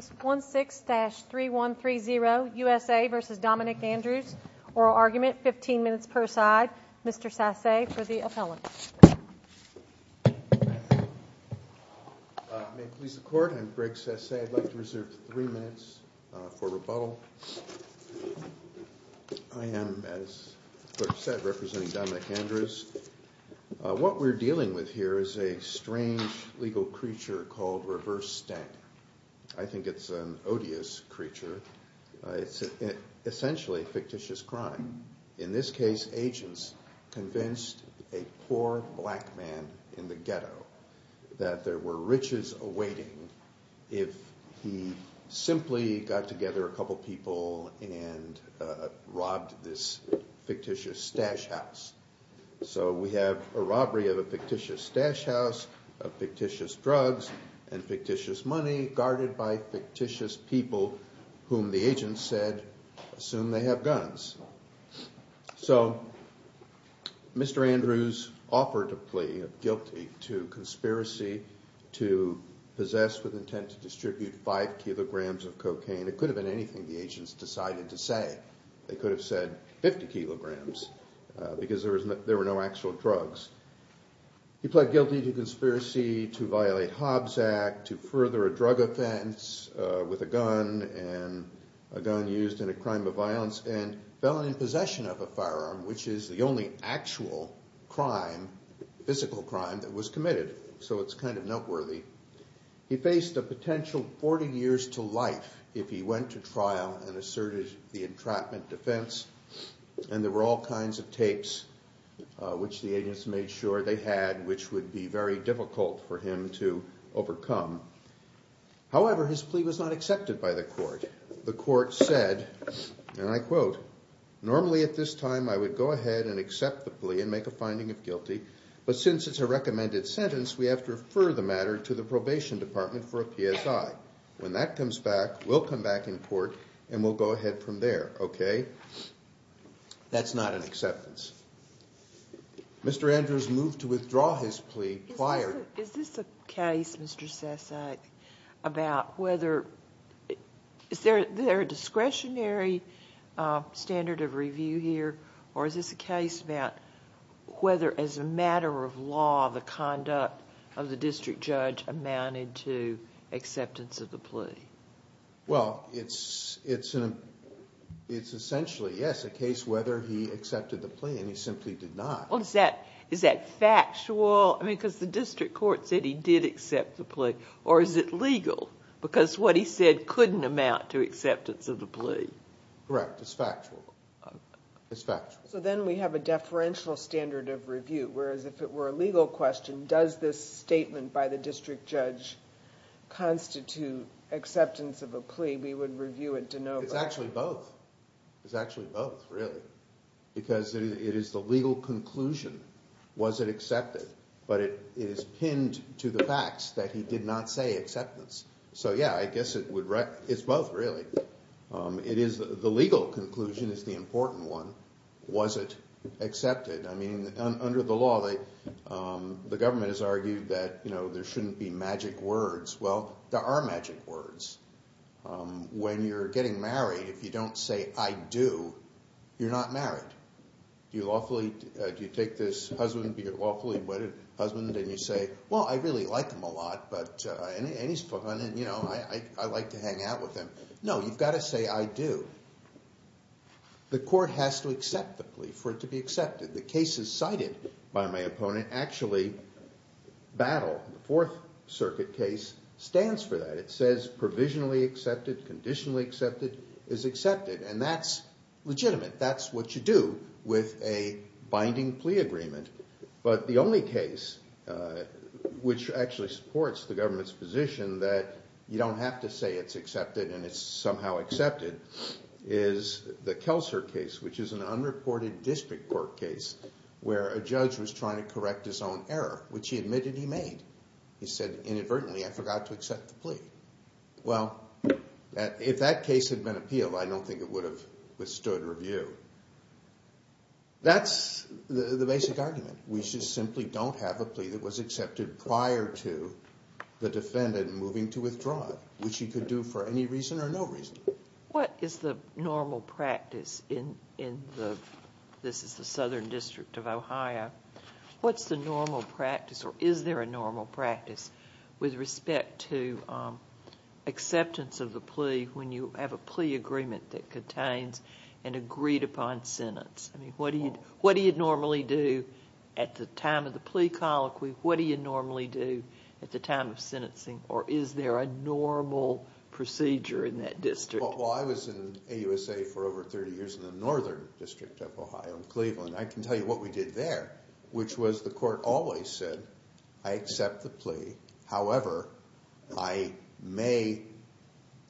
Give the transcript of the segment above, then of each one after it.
16-3130 USA v. Dominick Andrews Oral argument, 15 minutes per side. Mr. Sasse for the appellant May it please the court, I'm Greg Sasse I'd like to reserve three minutes for rebuttal I am, as the court said, representing Dominick Andrews What we're dealing with here is a strange legal creature called reverse stank I think it's an odious creature. It's essentially a fictitious crime In this case, agents convinced a poor black man in the ghetto that there were riches awaiting if he simply got together a couple people and robbed this fictitious stash house So we have a robbery of a fictitious stash house, of fictitious drugs and fictitious money guarded by fictitious people whom the agents said assumed they have guns So Mr. Andrews offered a plea of guilty to conspiracy to possess with intent to distribute 5 kilograms of cocaine It could have been anything the agents decided to say They could have said 50 kilograms, because there were no actual drugs He pled guilty to conspiracy to violate Hobbs Act, to further a drug offense with a gun and a gun used in a crime of violence and felon in possession of a firearm, which is the only actual physical crime that was committed so it's kind of noteworthy He faced a potential 40 years to life if he went to trial and asserted the entrapment defense and there were all kinds of tapes which the agents made sure they had which would be very difficult for him to overcome However, his plea was not accepted by the court The court said, and I quote That's not an acceptance Mr. Andrews moved to withdraw his plea prior Is there a discretionary standard of review here or is this a case about whether as a matter of law the conduct of the district judge amounted to acceptance of the plea Well, it's essentially, yes, a case whether he accepted the plea and he simply did not Is that factual, because the district court said he did accept the plea or is it legal, because what he said couldn't amount to acceptance of the plea Correct, it's factual So then we have a deferential standard of review, whereas if it were a legal question does this statement by the district judge constitute acceptance of a plea It's actually both, really because it is the legal conclusion, was it accepted but it is pinned to the fact that he did not say acceptance So yeah, I guess it's both really The legal conclusion is the important one, was it accepted Under the law, the government has argued that there shouldn't be magic words Well, there are magic words When you're getting married, if you don't say I do, you're not married You take this lawfully wedded husband and you say Well, I really like him a lot, and I like to hang out with him No, you've got to say I do The court has to accept the plea for it to be accepted The cases cited by my opponent actually battle The Fourth Circuit case stands for that, it says provisionally accepted, conditionally accepted is accepted, and that's legitimate, that's what you do with a binding plea agreement But the only case which actually supports the government's position that you don't have to say it's accepted and it's somehow accepted is the Kelser case, which is an unreported district court case where a judge was trying to correct his own error, which he admitted he made He said inadvertently I forgot to accept the plea Well, if that case had been appealed, I don't think it would have withstood review That's the basic argument, we just simply don't have a plea that was accepted prior to the defendant moving to withdraw it which he could do for any reason or no reason What is the normal practice in the Southern District of Ohio What's the normal practice, or is there a normal practice with respect to acceptance of the plea when you have a plea agreement that contains an agreed upon sentence? What do you normally do at the time of the plea colloquy, what do you normally do at the time of sentencing or is there a normal procedure in that district? Well, I was in AUSA for over 30 years in the Northern District of Ohio, Cleveland I can tell you what we did there, which was the court always said I accept the plea however, I may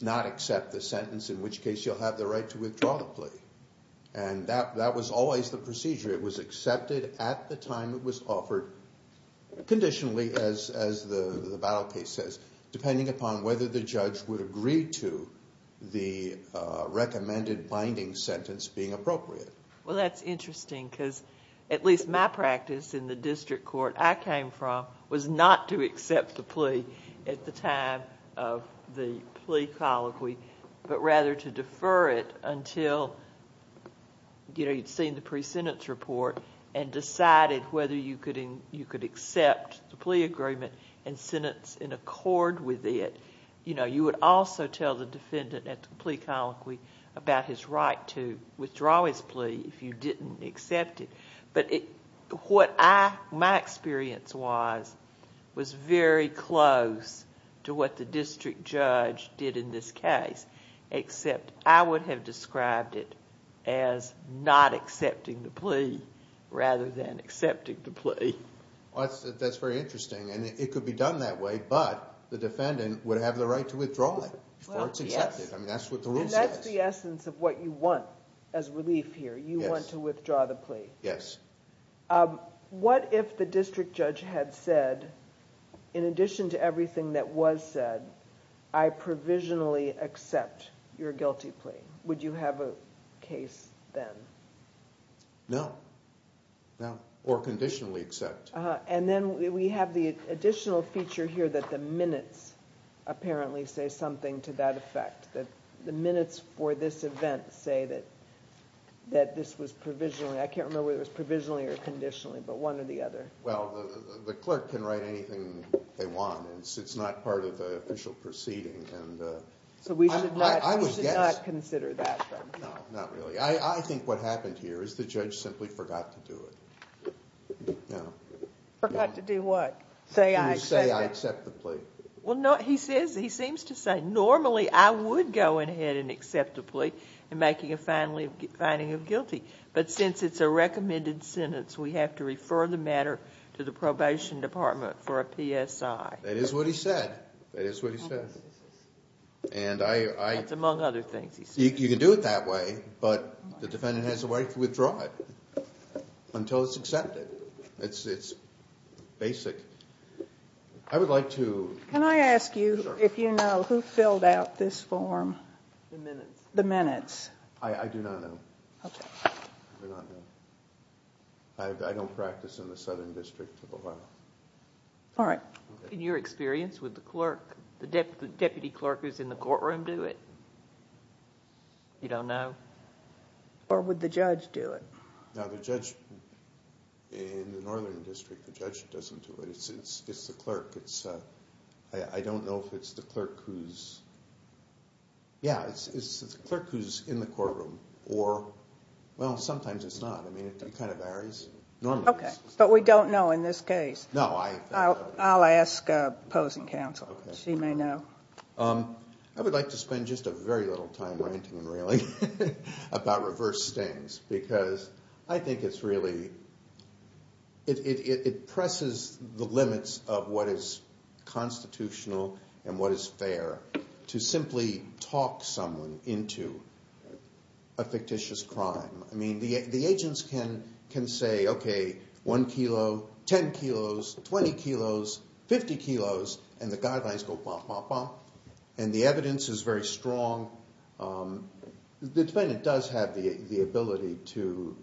not accept the sentence in which case you'll have the right to withdraw the plea and that was always the procedure, it was accepted at the time it was offered conditionally, as the battle case says, depending upon whether the judge would agree to the recommended binding sentence being appropriate Well that's interesting, because at least my practice in the district court I came from was not to accept the plea at the time of the plea colloquy but rather to defer it until you'd seen the pre-sentence report and decided whether you could accept the plea agreement and sentence in accord with it you would also tell the defendant at the plea colloquy about his right to withdraw his plea if you didn't accept it, but my experience was very close to what the district judge did in this case, except I would have described it as not accepting the plea rather than accepting the plea That's very interesting, and it could be done that way, but the defendant would have the right to withdraw it before it's accepted, that's what the rules say And that's the essence of what you want as relief here, you want to withdraw the plea What if the district judge had said in addition to everything that was said, I provisionally accept your guilty plea, would you have a case then? No, or conditionally accept And then we have the additional feature here that the minutes apparently say something to that effect that the minutes for this event say that this was provisionally I can't remember whether it was provisionally or conditionally, but one or the other Well, the clerk can write anything they want, it's not part of the official proceeding So we should not consider that, then? No, not really. I think what happened here is the judge simply forgot to do it Well, he seems to say normally I would go ahead and accept the plea in making a finding of guilty, but since it's a recommended sentence we have to refer the matter to the probation department for a PSI That is what he said You can do it that way, but the defendant has the right to withdraw it until it's accepted. It's basic Can I ask you if you know who filled out this form? The minutes? I do not know I don't practice in the Southern District of Ohio In your experience, would the deputy clerk who's in the courtroom do it? You don't know? Or would the judge do it? In the Northern District, the judge doesn't do it. It's the clerk I don't know if it's the clerk who's in the courtroom Well, sometimes it's not. It kind of varies But we don't know in this case I'll ask opposing counsel. She may know I would like to spend just a very little time ranting and railing about reverse stings because I think it presses the limits of what is constitutional and what is fair to simply talk someone into a fictitious crime The agents can say, okay, 1 kilo, 10 kilos, 20 kilos, 50 kilos and the guidelines go bop bop bop and the evidence is very strong The defendant does have the ability to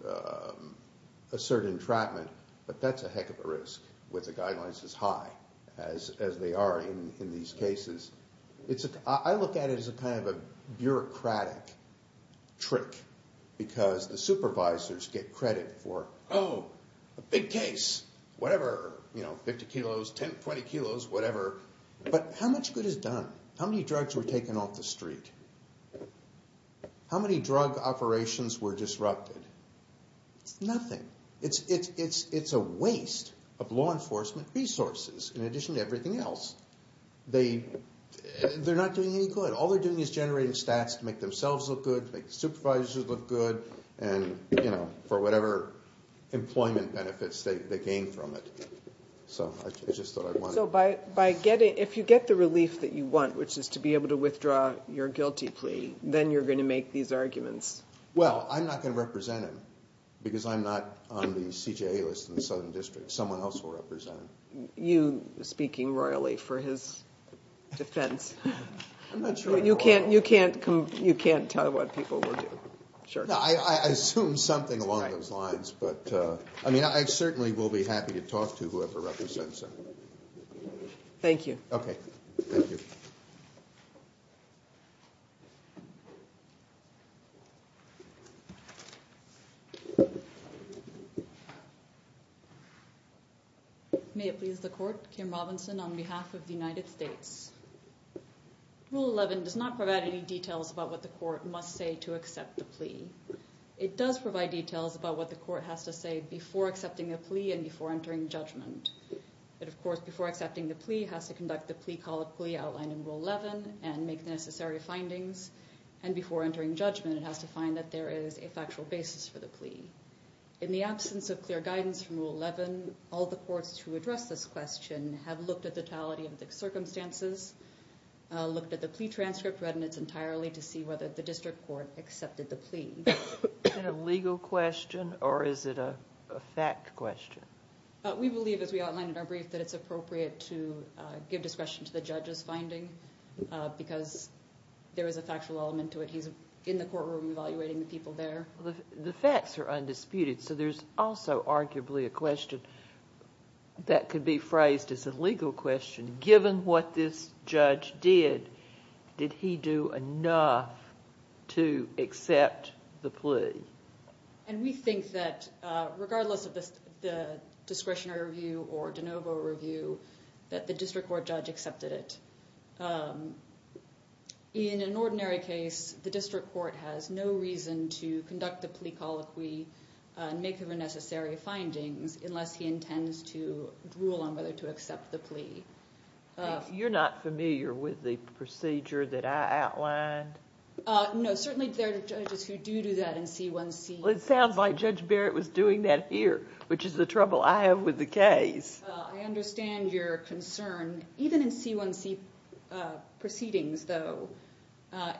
assert entrapment, but that's a heck of a risk with the guidelines as high as they are in these cases I look at it as kind of a bureaucratic trick because the supervisors get credit for, oh, a big case whatever, 50 kilos, 10, 20 kilos, whatever But how much good is done? How many drugs were taken off the street? It's a waste of law enforcement resources, in addition to everything else They're not doing any good. All they're doing is generating stats to make themselves look good to make the supervisors look good and for whatever employment benefits they gain from it So if you get the relief that you want, which is to be able to withdraw your guilty plea then you're going to make these arguments Well, I'm not going to represent him, because I'm not on the CJA list in the Southern District Someone else will represent him You speaking royally for his defense You can't tell what people will do Thank you May it please the court, Kim Robinson on behalf of the United States Rule 11 does not provide any details about what the court must say to accept the plea It does provide details about what the court has to say before accepting the plea and before entering judgment But of course, before accepting the plea, it has to conduct the plea-call-it-plea outlined in Rule 11 and make the necessary findings, and before entering judgment, it has to find that there is a factual basis for the plea In the absence of clear guidance from Rule 11, all the courts to address this question have looked at the totality of the circumstances, looked at the plea transcript read in its entirety to see whether the district court accepted the plea Is it a legal question, or is it a fact question? We believe, as we outlined in our brief, that it's appropriate to give discretion to the judge's finding because there is a factual element to it. He's in the courtroom evaluating the people there The facts are undisputed, so there's also arguably a question that could be phrased as a legal question. Given what this judge did did he do enough to accept the plea? And we think that regardless of the discretionary review or de novo review that the district court judge accepted it In an ordinary case, the district court has no reason to conduct the plea-call-it-plea and make the necessary findings unless he intends to rule on whether to accept the plea You're not familiar with the procedure that I outlined? No, certainly there are judges who do that in C1C It sounds like Judge Barrett was doing that here, which is the trouble I have with the case I understand your concern. Even in C1C proceedings, though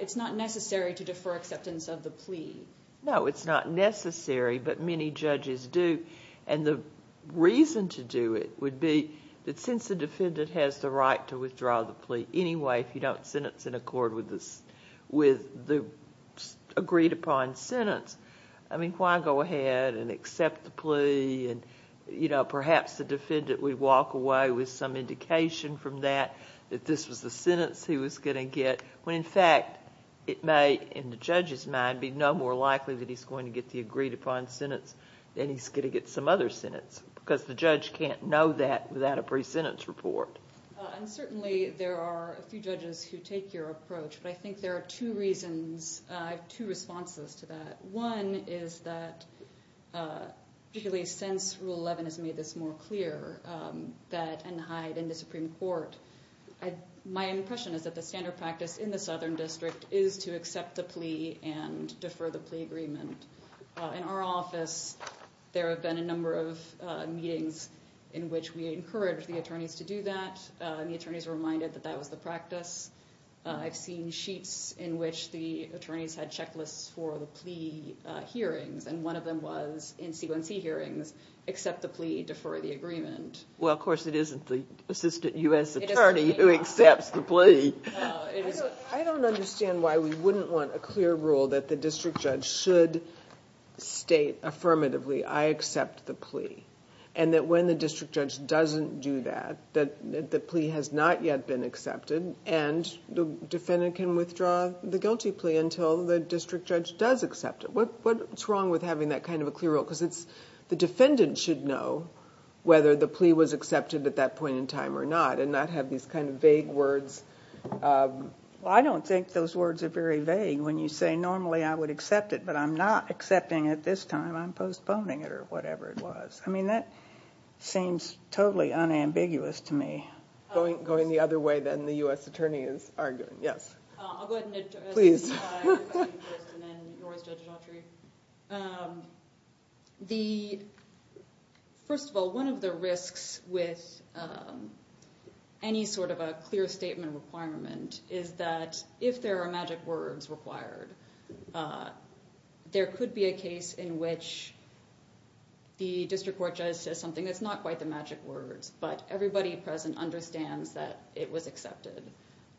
it's not necessary to defer acceptance of the plea No, it's not necessary, but many judges do. And the reason to do it would be that since the defendant has the right to withdraw the plea anyway if you don't sentence in accord with the agreed-upon sentence why go ahead and accept the plea? Perhaps the defendant would walk away with some indication from that that this was the sentence he was going to get when in fact it may, in the judge's mind, be no more likely that he's going to get the agreed-upon sentence than he's going to get some other sentence, because the judge can't know that without a pre-sentence report Certainly there are a few judges who take your approach, but I think there are two reasons I have two responses to that. One is that particularly since Rule 11 has made this more clear, that in the Supreme Court my impression is that the standard practice in the Southern District is to accept the plea and defer the plea agreement. In our office there have been a number of meetings in which we encourage the attorneys to do that, and the attorneys are reminded that that was the practice. I've seen sheets in which the attorneys had checklists for the plea hearings, and one of them was in C1C hearings, accept the plea, defer the agreement. Well of course it isn't the reason why we wouldn't want a clear rule that the district judge should state affirmatively, I accept the plea, and that when the district judge doesn't do that the plea has not yet been accepted, and the defendant can withdraw the guilty plea until the district judge does accept it. What's wrong with having that kind of a clear rule? Because the defendant should know whether the plea was accepted at that point in time or not, and not have these kind of vague words. Well I don't think those words are very vague when you say normally I would accept it, but I'm not accepting it this time, I'm postponing it or whatever it was. I mean that seems totally unambiguous to me. Going the other way then the U.S. Attorney is arguing. Yes. Please. First of all, one of the risks with any sort of a clear statement requirement is that if there are magic words required, there could be a case in which the district court judge says something that's not quite the magic words, but everybody present understands that it was accepted.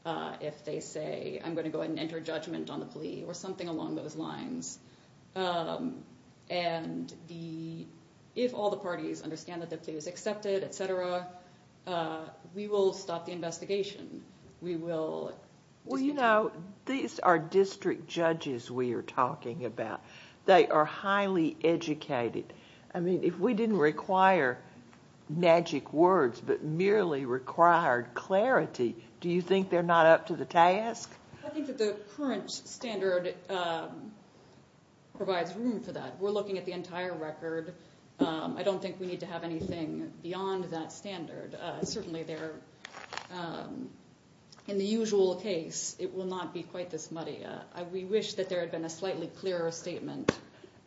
If they say I'm going to go and enter judgment on the plea or something along those lines. And if all the parties understand that the plea was accepted, etc., we will stop the investigation. We will. Well you know, these are district judges we are talking about. They are highly educated. I mean if we didn't require magic words, but merely required clarity, do you think they're not up to the task? I think that the current standard provides room for that. We're looking at the entire record. I don't think we need to have anything beyond that standard. Certainly there in the usual case it will not be quite this muddy. We wish that there had been a slightly clearer statement.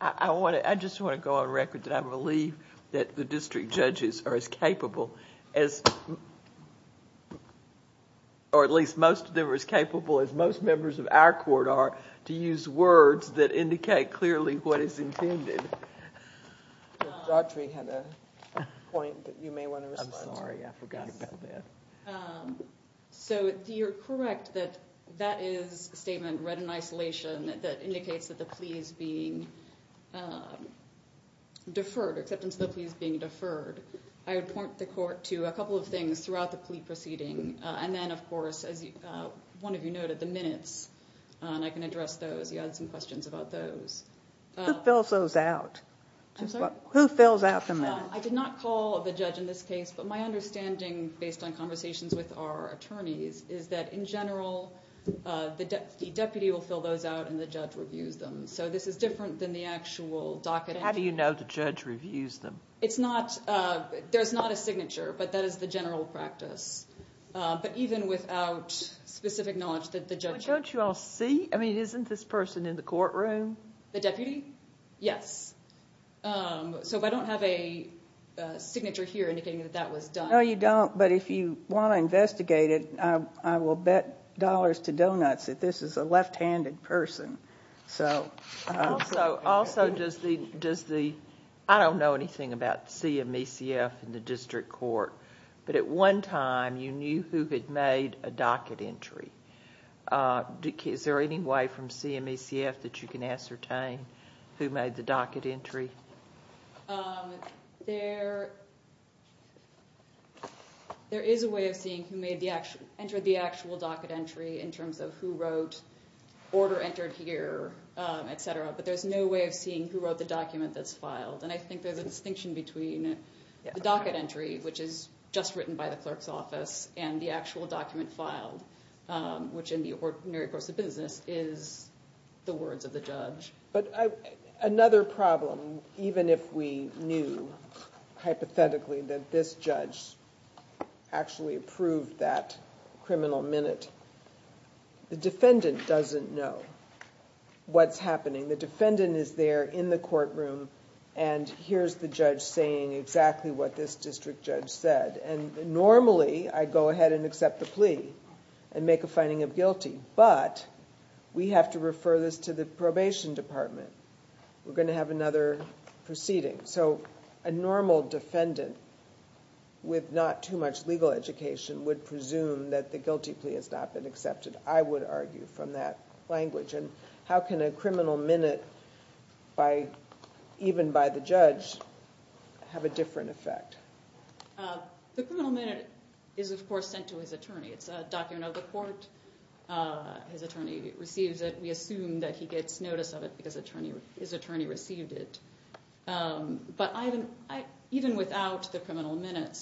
I just want to go on record that I believe that the district judges are as capable as, or at least most of them are as capable as most members of our court are to use words that indicate clearly what is intended. I'm sorry, I forgot about that. So you're correct that that is a statement read in isolation that indicates that the plea is being deferred, acceptance of the plea is being deferred. I would point the court to a couple of things throughout the plea proceeding. And then of course, as one of you noted, the minutes. I can address those. You had some questions about those. Who fills those out? Who fills out the minutes? I did not call the judge in this case, but my understanding based on conversations with our attorneys is that in general the deputy will fill those out and the judge reviews them. So this is different than the actual docket. How do you know the judge reviews them? There's not a signature, but that is the general practice. But even without specific knowledge that the judge... Isn't this person in the courtroom? The deputy? Yes. So I don't have a signature here indicating that that was done. No, you don't, but if you want to investigate it, I will bet dollars to donuts that this is a left-handed person. I don't know anything about CMECF in the district court, but at one time you knew who had made a docket entry. Is there any way from CMECF that you can ascertain who made the docket entry? There is a way of seeing who entered the actual docket entry in terms of who wrote order entered here, etc. But there's no way of seeing who wrote the document that's filed. And I think there's a distinction between the docket entry, which is just written by the clerk's office, and the actual document filed, which in the ordinary course of business is the words of the judge. But another problem, even if we knew hypothetically that this judge actually approved that criminal minute, the defendant doesn't know what's happening. The defendant is there in the courtroom and hears the judge saying exactly what this district judge said. Normally, I go ahead and accept the plea and make a finding of guilty, but we have to refer this to the probation department. We're going to have another proceeding. A normal defendant with not too much legal education would presume that the guilty plea has not been accepted, I would argue, from that language. And how can a criminal minute even by the judge have a different effect? The criminal minute is, of course, sent to his attorney. It's a document of the court. His attorney receives it. We assume that he gets notice of it because his attorney received it. But even without the criminal minute,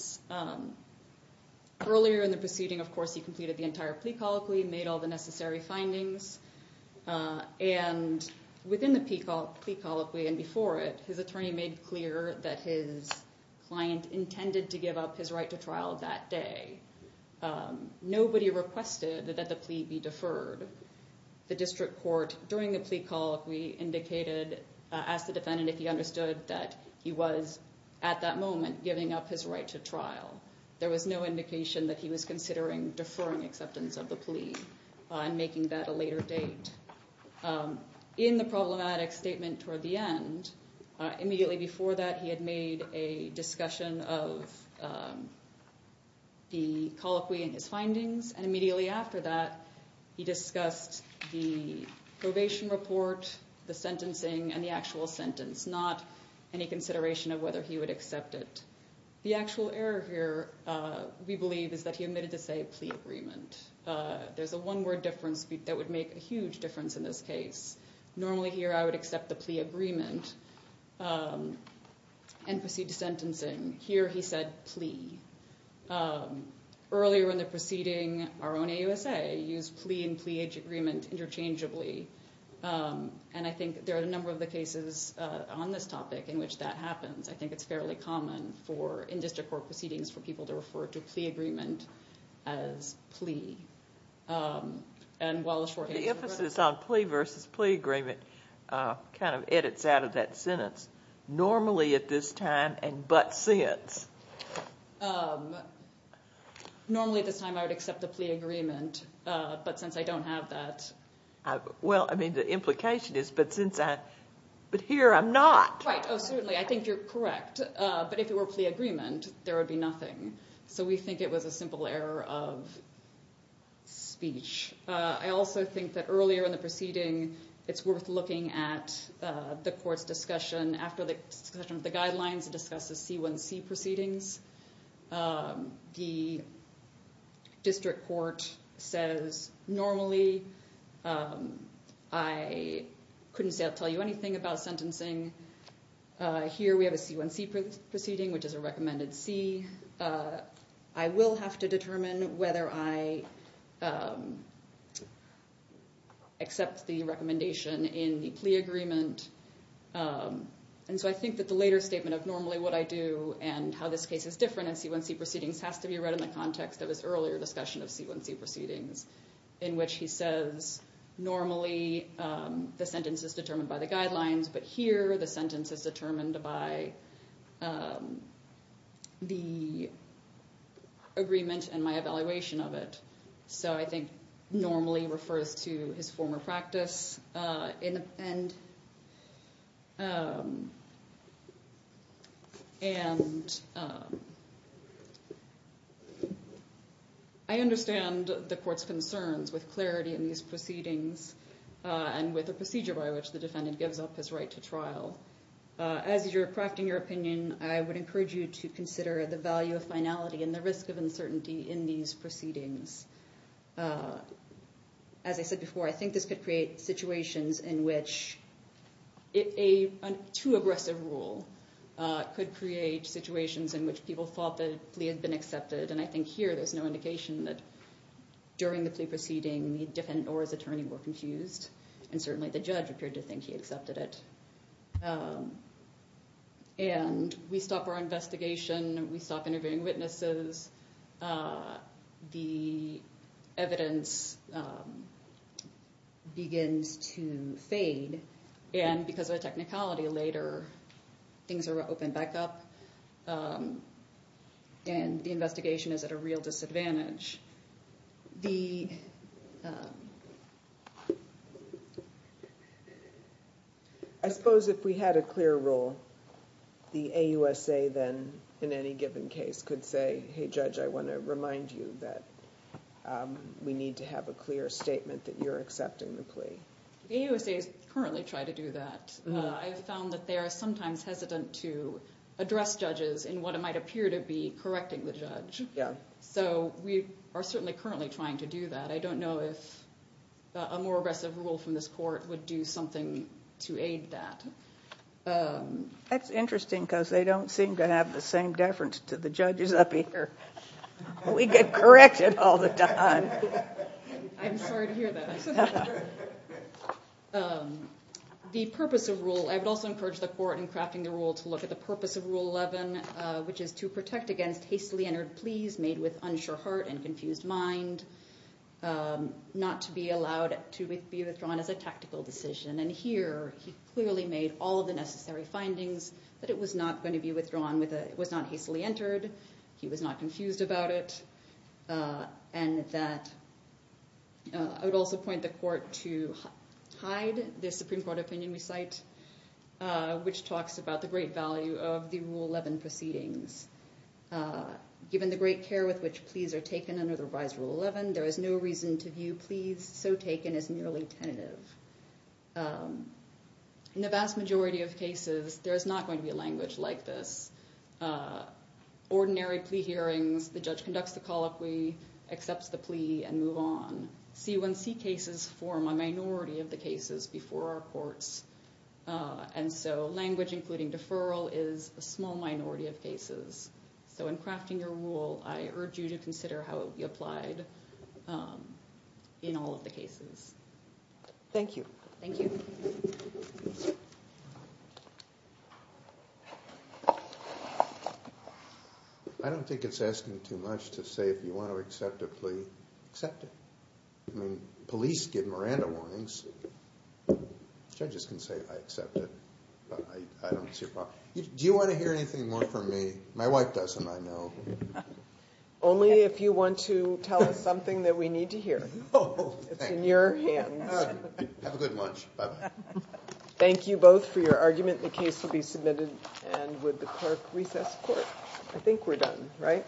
his attorney made clear that his client intended to give up his right to trial that day. Nobody requested that the plea be deferred. The district court, during the plea colloquy, asked the defendant if he understood that he was, at that moment, giving up his right to trial. There was no indication that he was considering deferring acceptance of the plea and making that a later date. In the problematic statement toward the end, immediately before that, he had made a discussion of the colloquy and his findings, and immediately after that, he discussed the probation report, the sentencing, and the actual sentence, not any consideration of whether he would accept it. The actual error here, we believe, is that he admitted to, say, a plea agreement. There's a one-word difference that would make a huge difference in this case. Normally, here, I would accept the plea agreement and proceed to sentencing. Here, he said plea. Earlier in the proceeding, our own AUSA used plea and plea-age agreement interchangeably. I think there are a number of cases on this topic in which that happens. I think it's fairly common in district court proceedings for people to refer to plea agreement as plea. The emphasis on plea versus plea agreement edits out of that sentence. Normally at this time and but since? Normally at this time, I would accept the plea agreement, but since I don't have that... Well, I mean, the implication is, but since I... But here, I'm not. Right. Oh, certainly. I think you're correct. But if it were plea agreement, there would be nothing. So we think it was a simple error of speech. I also think that earlier in the proceeding, it's worth looking at the court's discussion. After the discussion of the guidelines, it discusses C1C proceedings. The district court says, normally, I couldn't say I'll tell you anything about sentencing. Here, we have a C1C proceeding, which is a recommended C. I will have to determine whether I accept the recommendation in the plea agreement. I think that the later statement of normally what I do and how this case is different in C1C proceedings has to be read in the context of his earlier discussion of C1C proceedings, in which he says, normally, the sentence is determined by the guidelines, but here, the sentence is determined by the agreement and my evaluation of it. So I think normally refers to his former practice. And I understand the court's concerns with clarity in these proceedings and with the procedure by which the defendant gives up his right to trial. As you're crafting your opinion, I would encourage you to consider the value of finality and the risk of uncertainty in these proceedings. As I said before, I think this could create situations in which a too aggressive rule could create situations in which people thought the plea had been accepted. And I think here, there's no indication that during the plea proceeding, the defendant or his attorney were confused. And certainly, the judge appeared to think he accepted it. And we stop our investigation. We stop interviewing witnesses. The evidence begins to fade. And because of the technicality later, things are opened back up, and the investigation is at a real disadvantage. I suppose if we had a clear rule, the AUSA then, in any given case, could say, hey, judge, I want to remind you that we need to have a clear statement that you're accepting the plea. The AUSA is currently trying to do that. I found that they are sometimes hesitant to address judges in what might appear to be correcting the judge. So we are certainly currently trying to do that. I don't know if a more aggressive rule from this court would do something to aid that. That's interesting, because they don't seem to have the same deference to the judges up here. We get corrected all the time. I'm sorry to hear that. The purpose of rule, I would also encourage the court in crafting the rule to look at the purpose of Rule 11, which is to protect against hastily entered pleas made with unsure heart and confused mind, not to be allowed to be withdrawn as a tactical decision. And here, he clearly made all of the necessary findings that it was not going to be withdrawn, it was not hastily entered, he was not confused about it, and that I would also point the court to Hyde, the Supreme Court opinion we cite, which talks about the great value of the Rule 11 proceedings. Given the great care with which pleas are taken under the revised Rule 11, there is no reason to view pleas so taken as merely tentative. In the vast majority of cases, there is not going to be language like this. Ordinary plea hearings, the judge conducts the colloquy, accepts the plea, and move on. C1C cases form a minority of the cases before our courts, and so language including deferral is a small minority of cases. So in crafting your rule, I urge you to consider how it would be applied in all of the cases. Thank you. I don't think it's asking too much to say if you want to accept a plea, accept it. I mean, police give Miranda warnings. Judges can say, I accept it. Do you want to hear anything more from me? My wife doesn't, I know. Only if you want to tell us something that we need to hear. It's in your hands. Thank you both for your argument. The case will be submitted and with the clerk recess court. I think we're done, right?